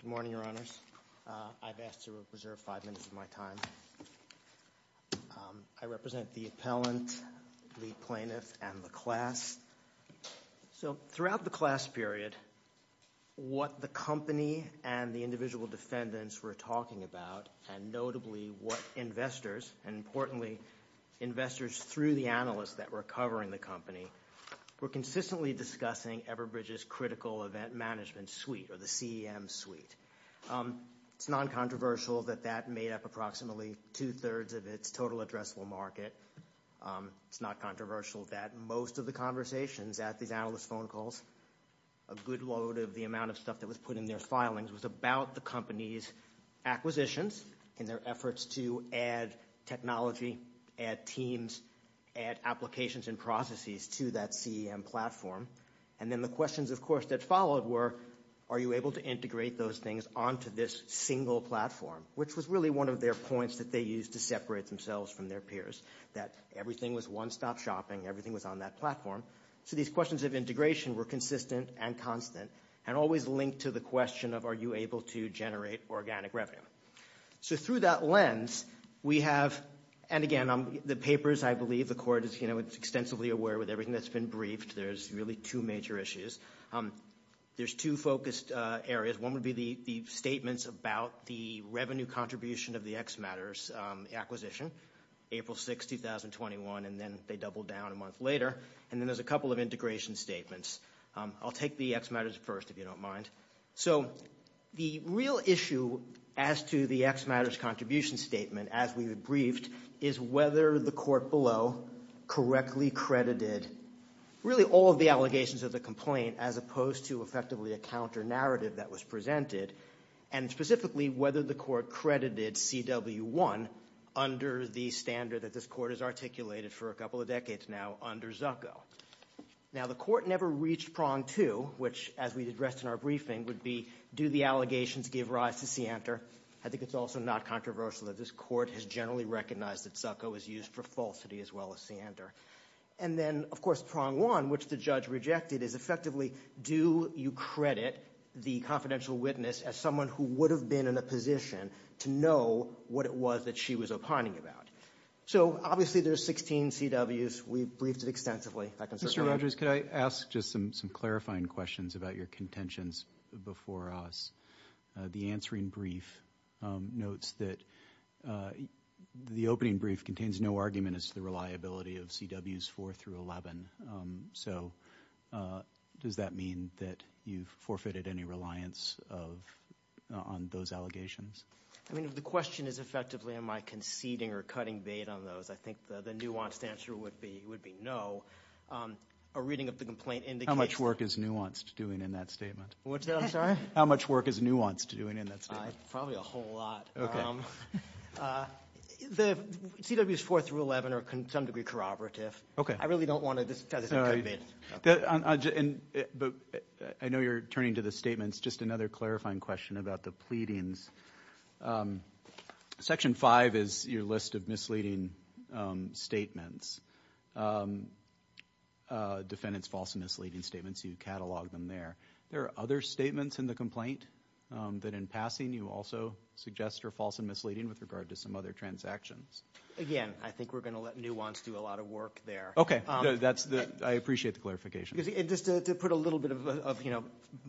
Good morning, Your Honors. I've asked to reserve five minutes of my time. I represent the appellant, the plaintiff, and the class. So throughout the class period, what the company and the individual defendants were talking about and notably what investors, and importantly, investors through the analysts that were covering the company, were consistently discussing Everbridge's critical event management suite or the CEM suite. It's non-controversial that that made up approximately two-thirds of its total addressable market. It's not controversial that most of the conversations at these analyst phone calls, a good load of the amount of stuff that was put in their filings, was about the company's acquisitions and their efforts to add technology, add teams, add applications and processes to that CEM platform. And then the questions, of course, that followed were, are you able to integrate those things onto this single platform, which was really one of their points that they used to separate themselves from their peers, that everything was one-stop shopping, everything was on that platform. So these questions of integration were consistent and constant and always linked to the question of are you able to generate organic revenue. So through that lens, we have, and again, the papers, I believe, the court is extensively aware with everything that's been briefed, there's really two major issues. There's two focused areas, one would be the statements about the revenue contribution of the X Matters acquisition, April 6, 2021, and then they doubled down a month later. And then there's a couple of integration statements. I'll take the X Matters first, if you don't mind. So the real issue as to the X Matters contribution statement, as we've briefed, is whether the court below correctly credited really all of the allegations of the complaint, as opposed to effectively a counter-narrative that was presented, and specifically whether the court credited CW1 under the standard that this court has articulated for a couple of decades now under Zucco. Now the court never reached prong two, which, as we addressed in our briefing, would be do the allegations give rise to scienter? I think it's also not controversial that this court has generally recognized that Zucco is used for falsity as well as scienter. And then, of course, prong one, which the judge rejected, is effectively do you credit the confidential witness as someone who would have been in a position to know what it was that she was opining about. So obviously there's 16 CWs. We've briefed it extensively. If that concerns you. Mr. Rogers, could I ask just some clarifying questions about your contentions before us? The answering brief notes that the opening brief contains no argument as to the reliability of CWs 4 through 11. So does that mean that you've forfeited any reliance on those allegations? I mean, if the question is effectively am I conceding or cutting bait on those, I think the nuanced answer would be no. A reading of the complaint indicates that. How much work is nuanced doing in that statement? What's that? I'm sorry? How much work is nuanced doing in that statement? Probably a whole lot. The CWs 4 through 11 are to some degree corroborative. I really don't want to just try to say cut bait. But I know you're turning to the statements. Just another clarifying question about the pleadings. Section 5 is your list of misleading statements. Defendant's false and misleading statements, you catalog them there. There are other statements in the complaint that in passing you also suggest are false and misleading with regard to some other transactions. Again, I think we're going to let nuance do a lot of work there. Okay. I appreciate the clarification. Just to put a little bit of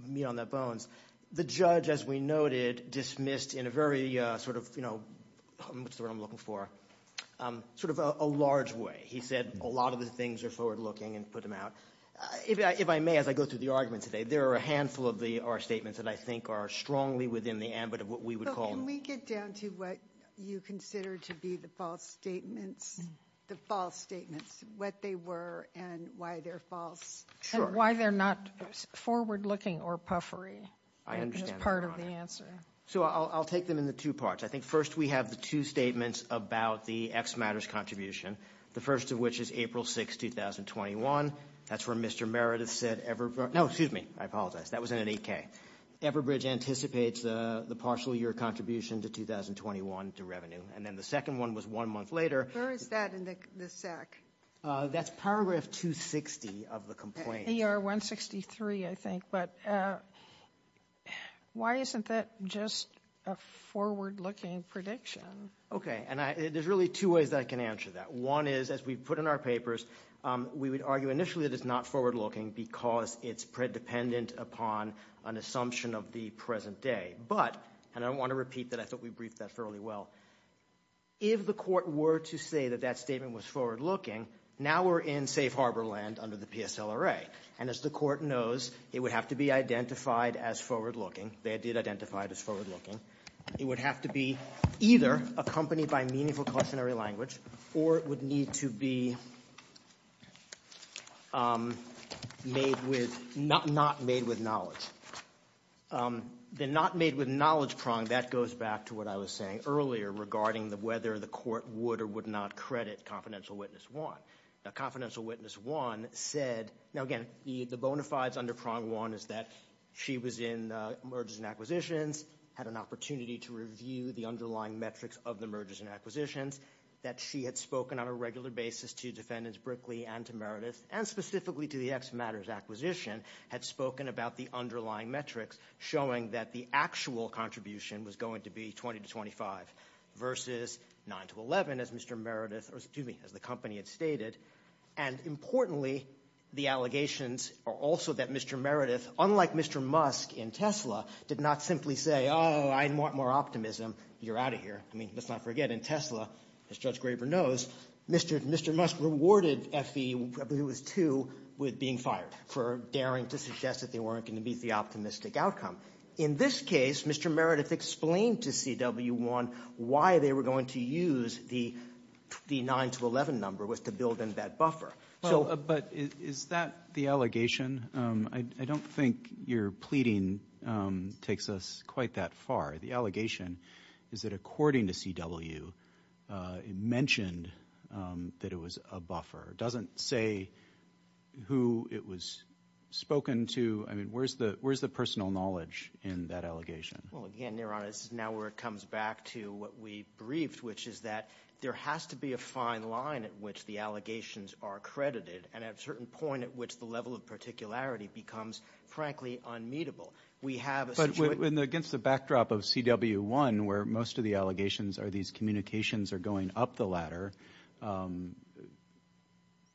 meat on the bones, the judge, as we noted, dismissed in a very sort of, what's the word I'm looking for, sort of a large way. He said a lot of the things are forward looking and put them out. If I may, as I go through the argument today, there are a handful of our statements that I think are strongly within the ambit of what we would call Can we get down to what you consider to be the false statements, the false statements, what they were, and why they're false? And why they're not forward looking or puffery. I understand that, Your Honor. That's part of the answer. So I'll take them in the two parts. I think first we have the two statements about the X Matters contribution. The first of which is April 6, 2021. That's where Mr. Meredith said Everbridge — no, excuse me, I apologize. That was in an 8K. Everbridge anticipates the partial year contribution to 2021 to revenue. And then the second one was one month later. Where is that in the SEC? That's Paragraph 260 of the complaint. ER 163, I think. But why isn't that just a forward looking prediction? Okay. And there's really two ways that I can answer that. One is, as we put in our papers, we would argue initially that it's not forward looking because it's predependent upon an assumption of the present day. But — and I want to repeat that. I thought we briefed that fairly well. If the court were to say that that statement was forward looking, now we're in safe harbor land under the PSLRA. And as the court knows, it would have to be identified as forward looking. They did identify it as forward looking. It would have to be either accompanied by meaningful cautionary language, or it would need to be made with — not made with knowledge. The not made with knowledge prong, that goes back to what I was saying earlier regarding whether the court would or would not credit Confidential Witness 1. Now Confidential Witness 1 said — now again, the bona fides under Prong 1 is that she was in mergers and acquisitions, had an opportunity to review the underlying metrics of the mergers and acquisitions, that she had spoken on a regular basis to defendants Brickley and to showing that the actual contribution was going to be 20 to 25 versus 9 to 11, as Mr. Meredith — or excuse me, as the company had stated. And importantly, the allegations are also that Mr. Meredith, unlike Mr. Musk in Tesla, did not simply say, oh, I want more optimism, you're out of here. I mean, let's not forget, in Tesla, as Judge Graber knows, Mr. Musk rewarded FE — I believe was two — with being fired for daring to suggest that they weren't going to meet the optimistic outcome. In this case, Mr. Meredith explained to CW1 why they were going to use the 9 to 11 number, was to build in that buffer. But is that the allegation? I don't think your pleading takes us quite that far. The allegation is that according to CW, it mentioned that it was a buffer. It doesn't say who it was spoken to. I mean, where's the personal knowledge in that allegation? Well, again, Your Honor, this is now where it comes back to what we briefed, which is that there has to be a fine line at which the allegations are credited, and at a certain point at which the level of particularity becomes, frankly, unmeetable. We have a — But against the backdrop of CW1, where most of the allegations are these communications are going up the ladder,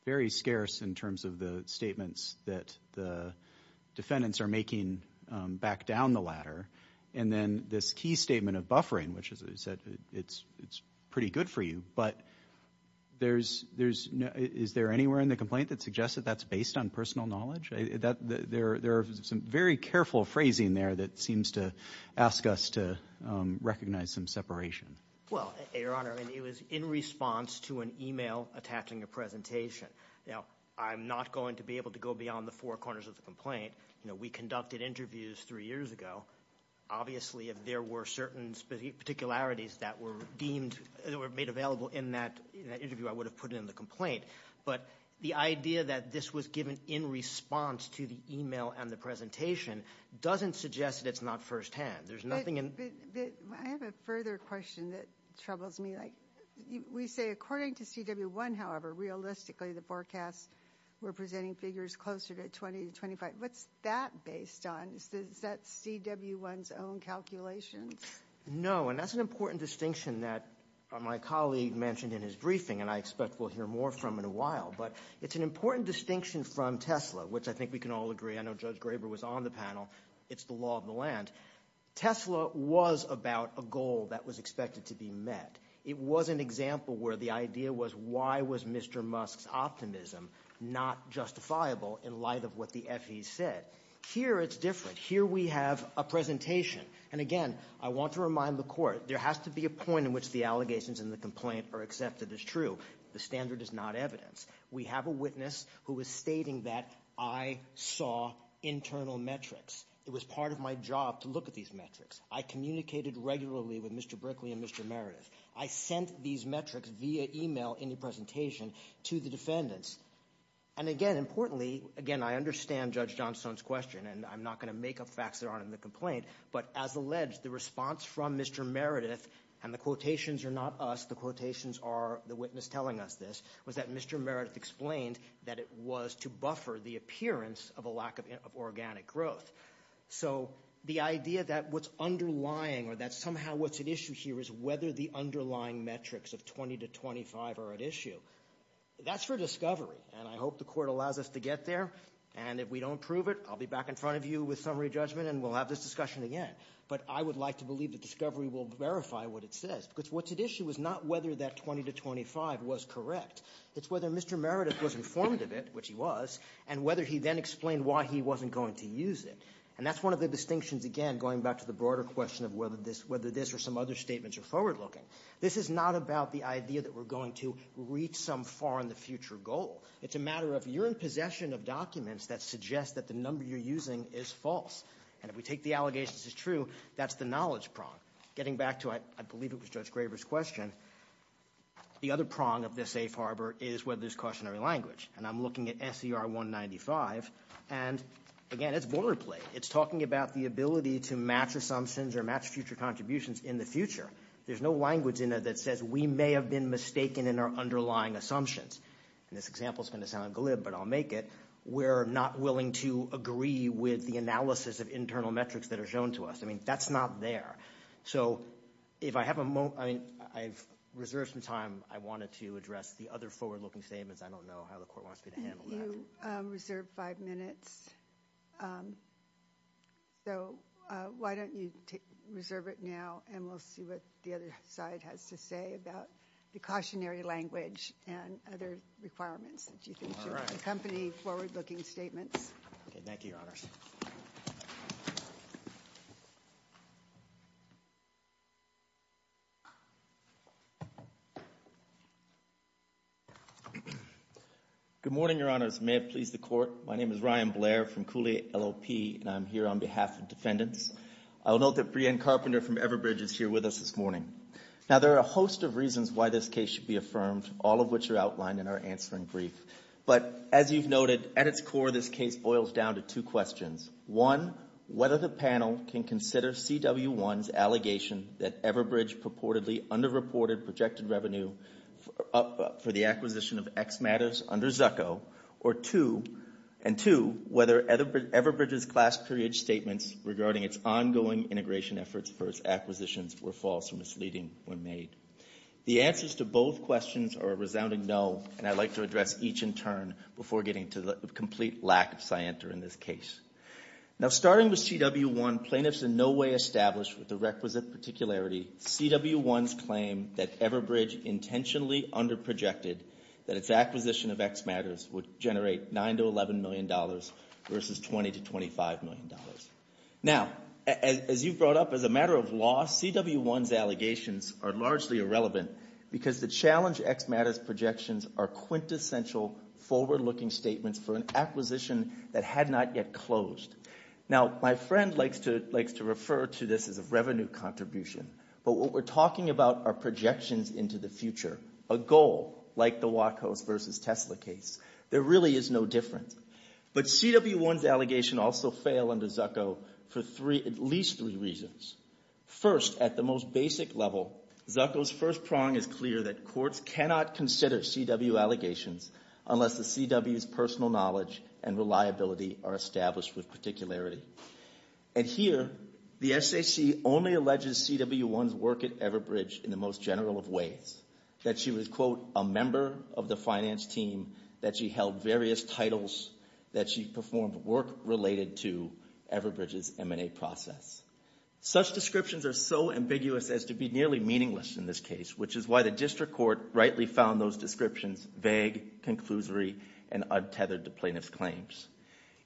very scarce in terms of the statements that the defendants are making back down the ladder. And then this key statement of buffering, which is that it's pretty good for you. But there's — is there anywhere in the complaint that suggests that that's based on personal knowledge? There are some very careful phrasing there that seems to ask us to recognize some separation. Well, Your Honor, it was in response to an email attaching a presentation. Now, I'm not going to be able to go beyond the four corners of the complaint. We conducted interviews three years ago. Obviously, if there were certain particularities that were deemed — that were made available in that interview, I would have put it in the complaint. But the idea that this was given in response to the email and the presentation doesn't suggest that it's not firsthand. There's nothing in — I have a further question that troubles me. We say, according to CW1, however, realistically, the forecasts were presenting figures closer to 20 to 25. What's that based on? Is that CW1's own calculations? No. And that's an important distinction that my colleague mentioned in his briefing, and I expect we'll hear more from in a while. But it's an important distinction from Tesla, which I think we can all agree — I know Judge Graber was on the panel — it's the law of the land. Tesla was about a goal that was expected to be met. It was an example where the idea was, why was Mr. Musk's optimism not justifiable in light of what the FEs said? Here it's different. Here we have a presentation. And again, I want to remind the court, there has to be a point in which the allegations in the complaint are accepted as true. The standard is not evidence. We have a witness who is stating that I saw internal metrics. It was part of my job to look at these metrics. I communicated regularly with Mr. Brickley and Mr. Meredith. I sent these metrics via email in the presentation to the defendants. And again, importantly — again, I understand Judge Johnstone's question, and I'm not going to make up facts that aren't in the complaint, but as alleged, the response from Mr. Meredith — and the quotations are not us, the quotations are the witness telling us this — was that Mr. Meredith explained that it was to buffer the appearance of a So the idea that what's underlying or that somehow what's at issue here is whether the underlying metrics of 20 to 25 are at issue, that's for discovery, and I hope the court allows us to get there. And if we don't prove it, I'll be back in front of you with summary judgment and we'll have this discussion again. But I would like to believe that discovery will verify what it says, because what's at issue is not whether that 20 to 25 was correct. It's whether Mr. Meredith was informed of it, which he was, and whether he then explained why he wasn't going to use it. And that's one of the distinctions, again, going back to the broader question of whether this — whether this or some other statements are forward-looking. This is not about the idea that we're going to reach some far-in-the-future goal. It's a matter of you're in possession of documents that suggest that the number you're using is false. And if we take the allegation this is true, that's the knowledge prong. Getting back to — I believe it was Judge Graber's question — the other prong of this safe harbor is whether there's cautionary language. And I'm looking at SER 195, and again, it's boilerplate. It's talking about the ability to match assumptions or match future contributions in the future. There's no language in it that says we may have been mistaken in our underlying assumptions. And this example is going to sound glib, but I'll make it. We're not willing to agree with the analysis of internal metrics that are shown to us. I mean, that's not there. So if I have a moment — I mean, I've reserved some time. I wanted to address the other forward-looking statements. I don't know how the court wants me to handle that. You reserve five minutes. So why don't you reserve it now, and we'll see what the other side has to say about the cautionary language and other requirements that you think should accompany forward-looking statements. Thank you, Your Honors. Good morning, Your Honors. May it please the Court. My name is Ryan Blair from Cooley LLP, and I'm here on behalf of defendants. I'll note that Brianne Carpenter from Everbridge is here with us this morning. Now, there are a host of reasons why this case should be affirmed, all of which are outlined in our answering brief. But as you've noted, at its core, this case boils down to two questions. One, whether the panel can consider CW1's allegation that Everbridge purportedly underreported projected revenue for the acquisition of X Matters under Zucco, and two, whether Everbridge's class period statements regarding its ongoing integration efforts for its acquisitions were false or misleading when made. The answers to both questions are a resounding no, and I'd like to address each in turn before getting to the complete lack of scienter in this case. Now, starting with CW1, plaintiffs in no way established with the requisite particularity CW1's claim that Everbridge intentionally underprojected that its acquisition of X Matters would generate $9 to $11 million versus $20 to $25 million. Now, as you brought up, as a matter of law, CW1's allegations are largely irrelevant because the challenge X Matters projections are quintessential forward-looking statements for an acquisition that had not yet closed. Now, my friend likes to refer to this as a revenue contribution, but what we're talking about are projections into the future, a goal, like the Wachos versus Tesla case. There really is no difference. But CW1's allegations also fail under Zucco for at least three reasons. First, at the most basic level, Zucco's first prong is clear that courts cannot consider CW allegations unless the CW's personal knowledge and reliability are established with particularity. And here, the SAC only alleges CW1's work at Everbridge in the most general of ways, that she was, quote, a member of the finance team, that she held various titles, that she performed work related to Everbridge's M&A process. Such descriptions are so ambiguous as to be nearly meaningless in this case, which is why the district court rightly found those descriptions vague, conclusory, and untethered to plaintiff's claims.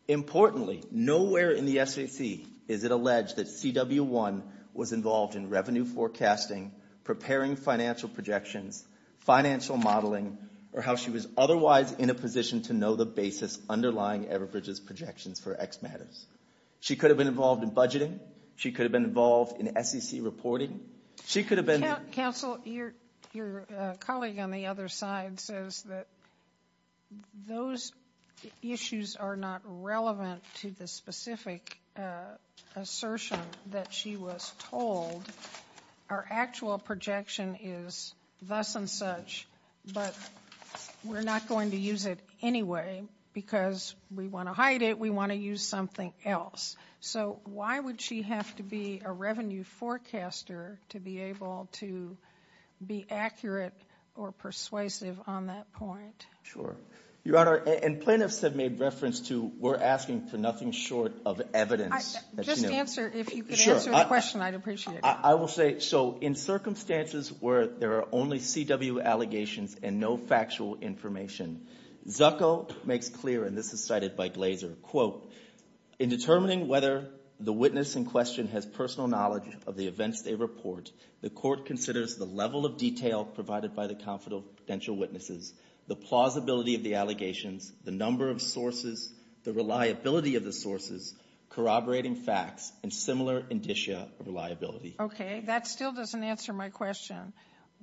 Importantly, nowhere in the SAC is it alleged that CW1 was involved in revenue forecasting, preparing financial projections, financial modeling, or how she was otherwise in a position to know the basis underlying Everbridge's projections for X Matters. She could have been involved in budgeting. She could have been involved in SEC reporting. She could have been involved in... Counsel, your colleague on the other side says that those issues are not relevant to the specific assertion that she was told. Our actual projection is thus and such, but we're not going to use it anyway because we want to hide it. We want to use something else. Why would she have to be a revenue forecaster to be able to be accurate or persuasive on that point? Your Honor, and plaintiffs have made reference to, we're asking for nothing short of evidence. Just answer. If you could answer the question, I'd appreciate it. I will say, in circumstances where there are only CW allegations and no factual information, Zucco makes clear, and this is cited by Glazer, quote, in determining whether the witness in question has personal knowledge of the events they report, the court considers the level of detail provided by the confidential witnesses, the plausibility of the allegations, the number of sources, the reliability of the sources, corroborating facts, and similar indicia of reliability. Okay. That still doesn't answer my question.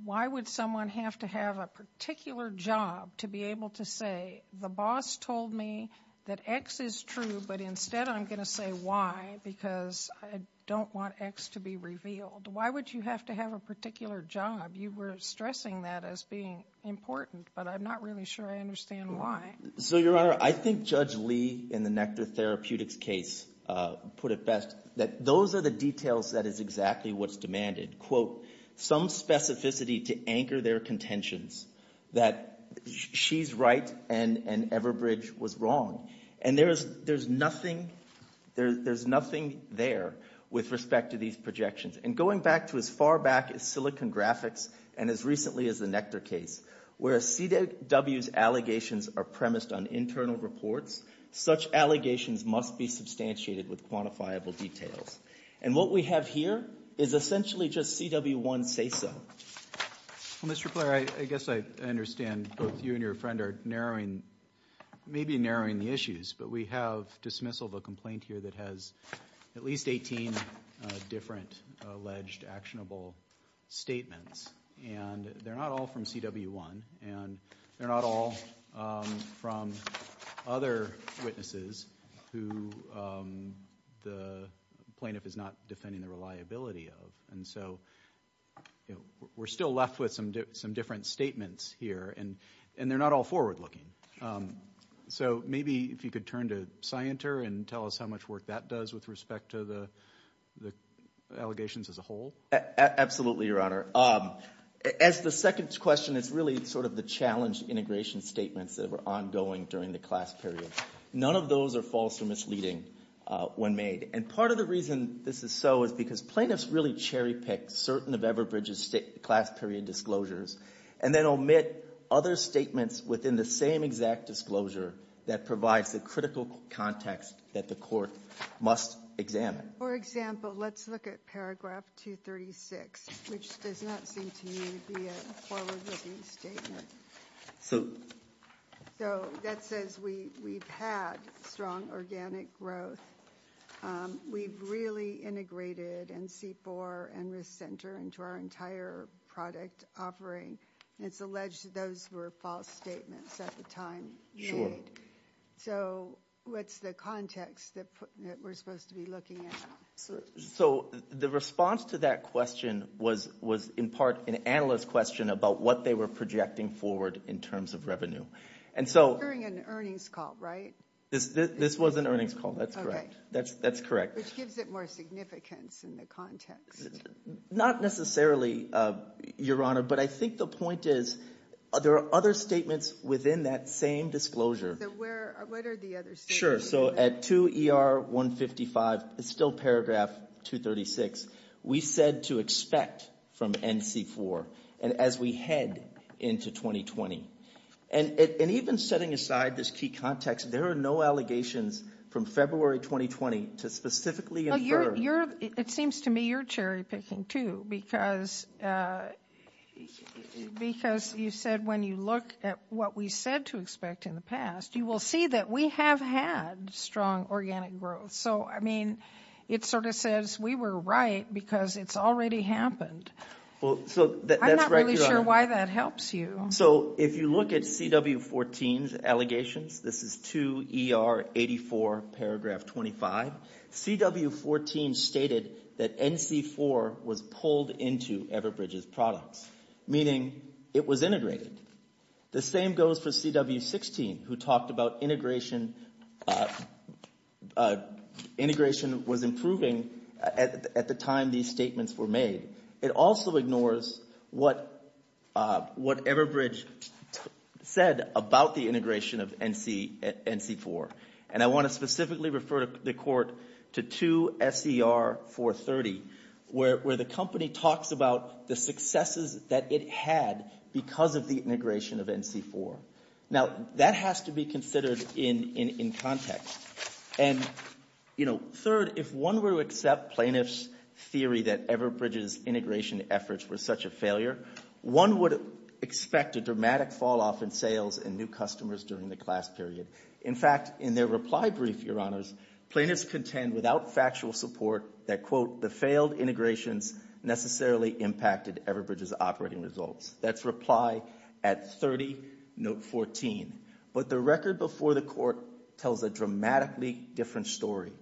Why would someone have to have a particular job to be able to say, the boss told me that X is true, but instead I'm going to say Y because I don't want X to be revealed. Why would you have to have a particular job? You were stressing that as being important, but I'm not really sure I understand why. So Your Honor, I think Judge Lee in the Nectar Therapeutics case put it best, that those are the details that is exactly what's demanded. Quote, some specificity to anchor their contentions, that she's right and Everbridge was wrong. And there's nothing there with respect to these projections. And going back to as far back as Silicon Graphics and as recently as the Nectar case, where CW's allegations are premised on internal reports, such allegations must be substantiated with quantifiable details. And what we have here is essentially just CW1 say so. Well, Mr. Blair, I guess I understand both you and your friend are narrowing, maybe narrowing the issues, but we have dismissal of a complaint here that has at least 18 different alleged actionable statements, and they're not all from CW1, and they're not all from other witnesses who the plaintiff is not defending the reliability of. And so, you know, we're still left with some different statements here, and they're not all forward-looking. So maybe if you could turn to Scienter and tell us how much work that does with respect to the allegations as a whole. Absolutely, Your Honor. As the second question, it's really sort of the challenge integration statements that were ongoing during the class period. None of those are false or misleading when made. And part of the reason this is so is because plaintiffs really cherry-pick certain of Everbridge's class period disclosures and then omit other statements within the same exact disclosure that provides the critical context that the court must examine. For example, let's look at Paragraph 236, which does not seem to me to be a forward-looking statement. So that says we've had strong organic growth. We've really integrated NC4 and Risk Center into our entire product offering. It's alleged that those were false statements at the time made. So what's the context that we're supposed to be looking at? So the response to that question was in part an analyst question about what they were projecting forward in terms of revenue. And so... During an earnings call, right? This was an earnings call. That's correct. Okay. That's correct. Which gives it more significance in the context. Not necessarily, Your Honor, but I think the point is there are other statements within that same disclosure. So where... What are the other statements? Sure. So at 2 ER 155, it's still Paragraph 236, we said to expect from NC4. And as we head into 2020. And even setting aside this key context, there are no allegations from February 2020 to specifically infer... Well, you're... It seems to me you're cherry-picking, too, because you said when you look at what we said to expect in the past, you will see that we have had strong organic growth. So I mean, it sort of says we were right because it's already happened. Well, so... I'm not really sure why that helps you. So if you look at CW14's allegations, this is 2 ER 84, Paragraph 25, CW14 stated that NC4 was pulled into Everbridge's products, meaning it was integrated. The same goes for CW16, who talked about integration was improving at the time these statements were made. It also ignores what Everbridge said about the integration of NC4. And I want to specifically refer the Court to 2 SER 430, where the company talks about the successes that it had because of the integration of NC4. Now, that has to be considered in context. And, you know, third, if one were to accept plaintiff's theory that Everbridge's integration efforts were such a failure, one would expect a dramatic fall-off in sales and new customers during the class period. In fact, in their reply brief, Your Honors, plaintiffs contend without factual support that, quote, the failed integrations necessarily impacted Everbridge's operating results. That's reply at 30, Note 14. But the record before the Court tells a dramatically different story.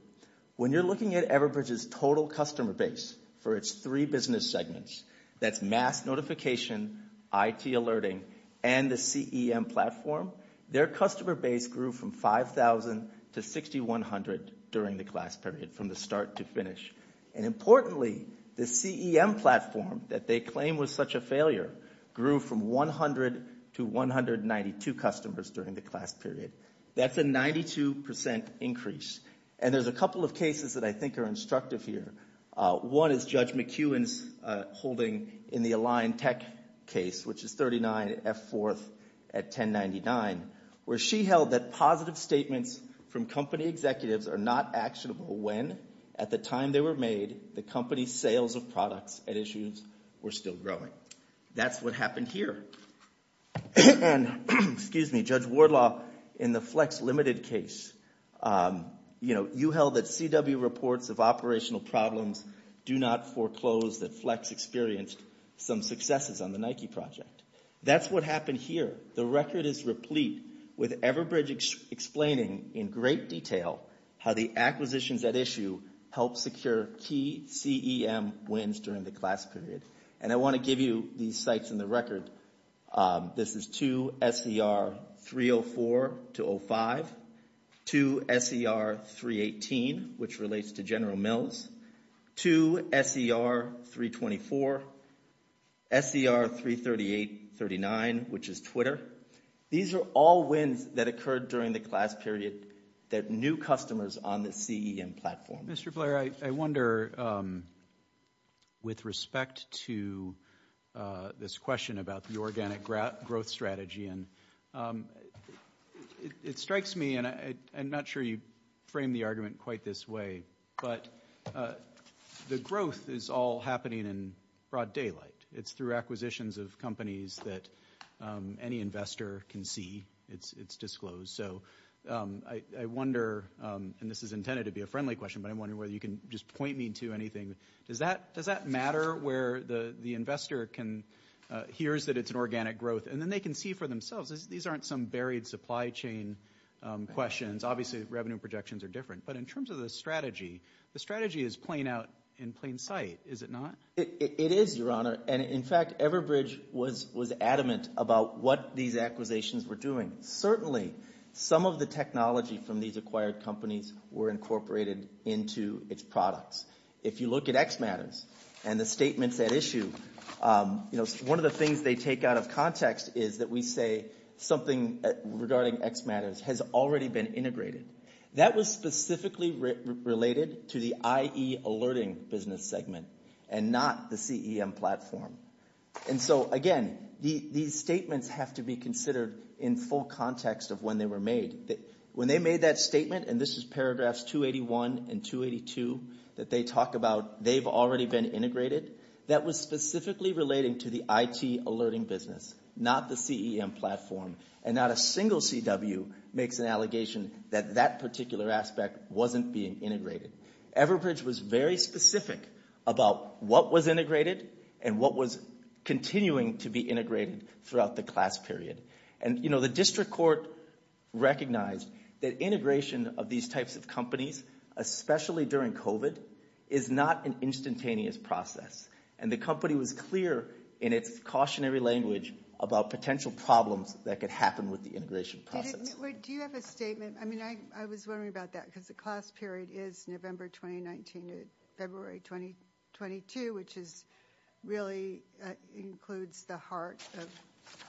When you're looking at Everbridge's total customer base for its three business segments, that's mass notification, IT alerting, and the CEM platform, their customer base grew from 5,000 to 6,100 during the class period, from the start to finish. And importantly, the CEM platform that they claim was such a failure grew from 100 to 192 customers during the class period. That's a 92% increase. And there's a couple of cases that I think are instructive here. One is Judge McEwen's holding in the Align Tech case, which is 39 F4th at 1099, where she held that positive statements from company executives are not actionable when, at the time they were made, the company's sales of products and issues were still growing. That's what happened here. And, excuse me, Judge Wardlaw, in the Flex Limited case, you know, you held that CW reports of operational problems do not foreclose that Flex experienced some successes on the Nike project. That's what happened here. The record is replete with Everbridge explaining in great detail how the acquisitions at issue helped secure key CEM wins during the class period. And I want to give you these sites in the record. This is 2SER 304 to 05, 2SER 318, which relates to General Mills, 2SER 324, SER 338, 39, which is Twitter. These are all wins that occurred during the class period that new customers on the CEM platform. Mr. Blair, I wonder, with respect to this question about the organic growth strategy, and it strikes me, and I'm not sure you frame the argument quite this way, but the growth is all happening in broad daylight. It's through acquisitions of companies that any investor can see. It's disclosed. So I wonder, and this is intended to be a friendly question, but I'm wondering whether you can just point me to anything. Does that matter where the investor hears that it's an organic growth and then they can see for themselves? These aren't some buried supply chain questions. Obviously, revenue projections are different. But in terms of the strategy, the strategy is playing out in plain sight, is it not? It is, Your Honor. And in fact, Everbridge was adamant about what these acquisitions were doing. Certainly, some of the technology from these acquired companies were incorporated into its products. If you look at X Matters and the statements at issue, you know, one of the things they take out of context is that we say something regarding X Matters has already been integrated. That was specifically related to the IE alerting business segment and not the CEM platform. And so, again, these statements have to be considered in full context of when they were made. When they made that statement, and this is paragraphs 281 and 282 that they talk about they've already been integrated, that was specifically relating to the IT alerting business, not the CEM platform. And not a single CW makes an allegation that that particular aspect wasn't being integrated. Everbridge was very specific about what was integrated and what was continuing to be integrated throughout the class period. And you know, the district court recognized that integration of these types of companies, especially during COVID, is not an instantaneous process. And the company was clear in its cautionary language about potential problems that could happen with the integration process. Do you have a statement? I mean, I was wondering about that because the class period is November 2019 to February 2022, which is really includes the heart of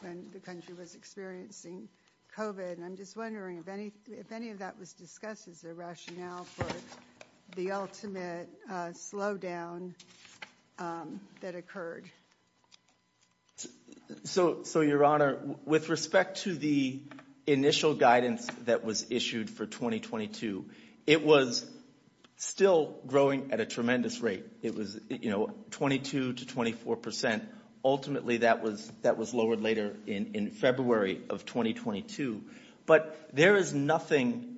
when the country was experiencing COVID. And I'm just wondering if any of that was discussed as a rationale for the ultimate slowdown that occurred. So, Your Honor, with respect to the initial guidance that was issued for 2022, it was still growing at a tremendous rate. It was, you know, 22 to 24 percent. Ultimately, that was lowered later in February of 2022. But there is nothing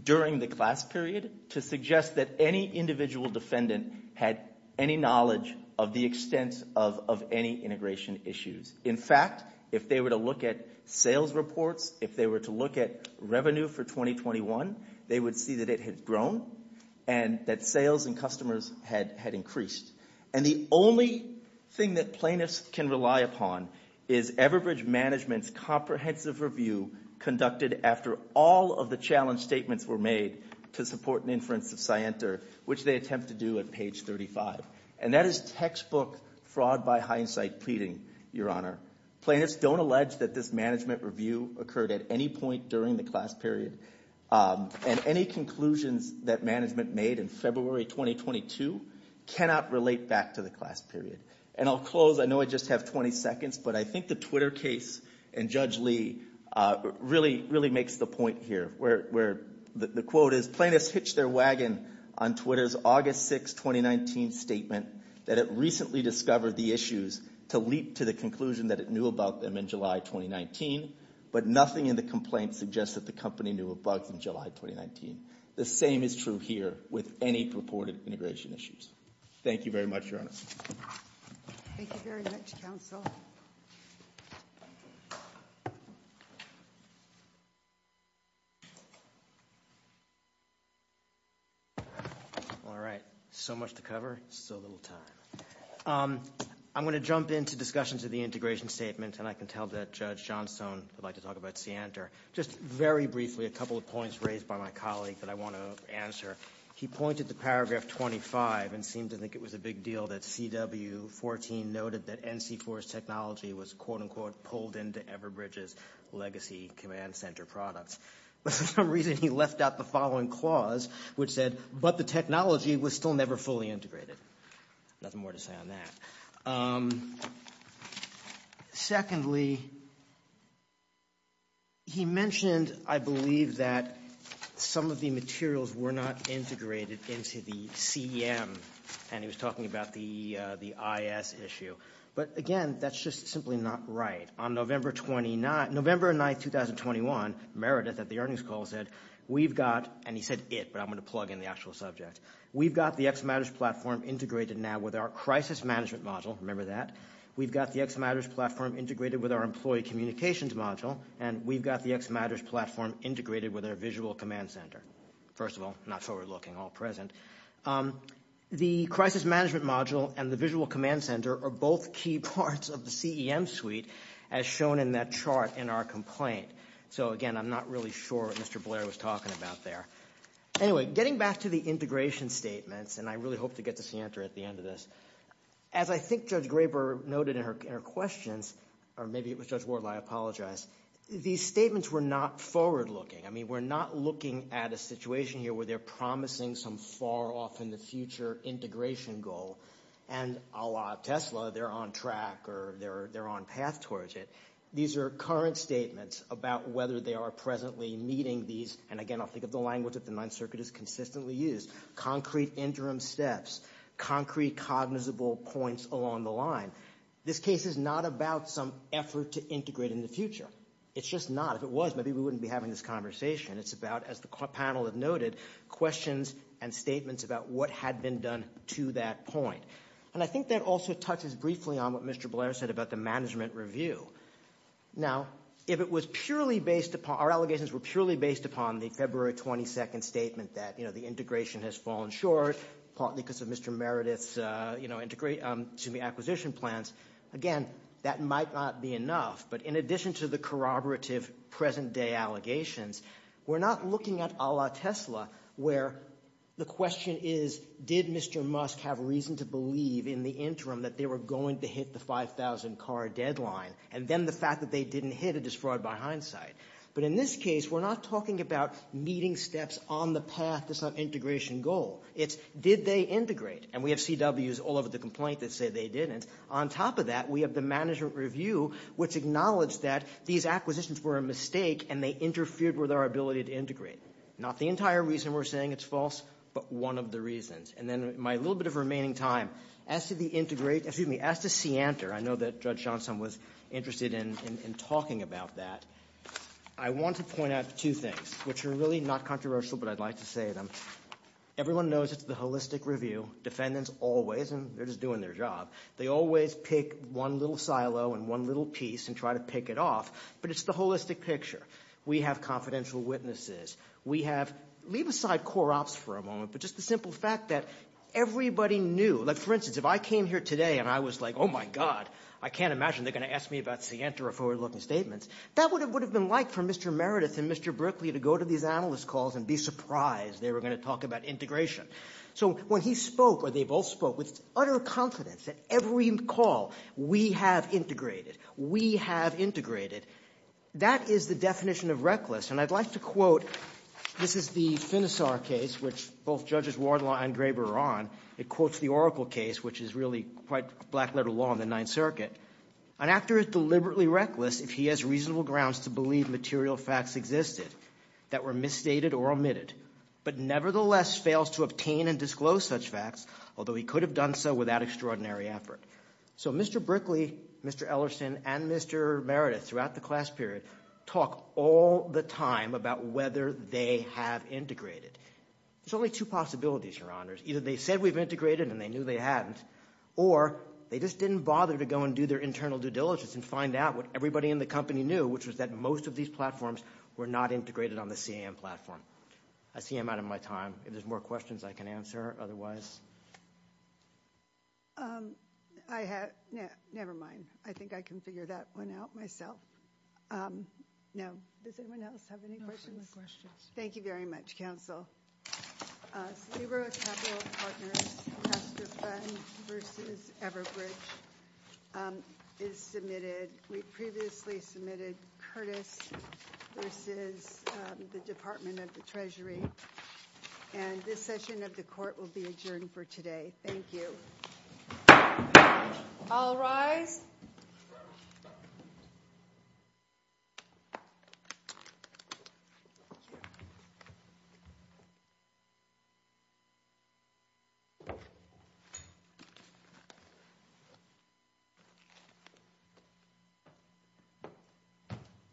during the class period to suggest that any individual defendant had any knowledge of the extent of any integration issues. In fact, if they were to look at sales reports, if they were to look at revenue for 2021, they would see that it had grown and that sales and customers had increased. And the only thing that plaintiffs can rely upon is Everbridge Management's comprehensive review conducted after all of the challenge statements were made to support an inference of Scienter, which they attempt to do at page 35. And that is textbook fraud by hindsight pleading, Your Honor. Plaintiffs don't allege that this management review occurred at any point during the class period. And any conclusions that management made in February 2022 cannot relate back to the class period. And I'll close. I know I just have 20 seconds, but I think the Twitter case and Judge Lee really, really makes the point here where the quote is, plaintiffs hitched their wagon on Twitter's August 6, 2019 statement that it recently discovered the issues to leap to the conclusion that it knew about them in July 2019. But nothing in the complaint suggests that the company knew of bugs in July 2019. The same is true here with any purported integration issues. Thank you very much, Your Honor. Thank you very much, counsel. All right. So much to cover, so little time. I'm going to jump into discussions of the integration statement, and I can tell that Judge Johnstone would like to talk about Scienter. Just very briefly, a couple of points raised by my colleague that I want to answer. He pointed to paragraph 25 and seemed to think it was a big deal that CW14 noted that NC was quote-unquote pulled into Everbridge's legacy command center products. For some reason, he left out the following clause, which said, but the technology was still never fully integrated. Nothing more to say on that. Secondly, he mentioned, I believe, that some of the materials were not integrated into the CM, and he was talking about the IS issue. But again, that's just simply not right. On November 9, 2021, Meredith at the earnings call said, we've got, and he said it, but I'm going to plug in the actual subject, we've got the X Matters platform integrated now with our crisis management module, remember that, we've got the X Matters platform integrated with our employee communications module, and we've got the X Matters platform integrated with our visual command center. First of all, not forward-looking, all present. The crisis management module and the visual command center are both key parts of the CEM suite, as shown in that chart in our complaint. So again, I'm not really sure what Mr. Blair was talking about there. Anyway, getting back to the integration statements, and I really hope to get to Sientra at the end of this. As I think Judge Graber noted in her questions, or maybe it was Judge Ward, I apologize, these statements were not forward-looking. I mean, we're not looking at a situation here where they're promising some far-off-in-the-future integration goal, and a la Tesla, they're on track or they're on path towards it. These are current statements about whether they are presently meeting these, and again, I'll think of the language that the Ninth Circuit has consistently used, concrete interim steps, concrete cognizable points along the line. This case is not about some effort to integrate in the future. It's just not. If it was, maybe we wouldn't be having this conversation. It's about, as the panel had noted, questions and statements about what had been done to that point. And I think that also touches briefly on what Mr. Blair said about the management review. Now, if it was purely based upon, our allegations were purely based upon the February 22nd statement that the integration has fallen short, partly because of Mr. Meredith's acquisition plans, again, that might not be enough, but in addition to the corroborative present-day allegations, we're not looking at a la Tesla, where the question is, did Mr. Musk have reason to believe in the interim that they were going to hit the 5,000 car deadline, and then the fact that they didn't hit it is fraught by hindsight. But in this case, we're not talking about meeting steps on the path to some integration goal. It's, did they integrate? And we have CWs all over the complaint that say they didn't. On top of that, we have the management review, which acknowledged that these acquisitions were a mistake and they interfered with our ability to integrate. Not the entire reason we're saying it's false, but one of the reasons. And then my little bit of remaining time, as to the integrate, excuse me, as to SEANTR, I know that Judge Johnson was interested in talking about that, I want to point out two things, which are really not controversial, but I'd like to say them. Everyone knows it's the holistic review, defendants always, and they're just doing their job, they always pick one little silo and one little piece and try to pick it off, but it's the holistic picture. We have confidential witnesses. We have, leave aside core ops for a moment, but just the simple fact that everybody knew, like for instance, if I came here today and I was like, oh my God, I can't imagine they're going to ask me about SEANTR or forward-looking statements, that would have been like for Mr. Meredith and Mr. Brickley to go to these analyst calls and be surprised they were going to talk about integration. So when he spoke, or they both spoke, with utter confidence that every call, we have integrated, we have integrated, that is the definition of reckless, and I'd like to quote, this is the Finisar case, which both Judges Wardlaw and Graber are on, it quotes the Oracle case, which is really quite black-letter law in the Ninth Circuit, an actor is deliberately reckless if he has reasonable grounds to believe material facts existed that were misstated or omitted, but nevertheless fails to obtain and disclose such facts, although he could have done so without extraordinary effort. So Mr. Brickley, Mr. Ellerson, and Mr. Meredith, throughout the class period, talk all the time about whether they have integrated. There's only two possibilities, Your Honors. Either they said we've integrated and they knew they hadn't, or they just didn't bother to go and do their internal due diligence and find out what everybody in the company knew, which was that most of these platforms were not integrated on the CAM platform. I see I'm out of my time. If there's more questions, I can answer, otherwise. I have, never mind. I think I can figure that one out myself. Now, does anyone else have any questions? Thank you very much, Counsel. We previously submitted Curtis v. the Department of the Treasury, and this session of the Court will be adjourned for today. Thank you. All rise.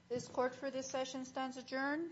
This Court, for this session, stands adjourned.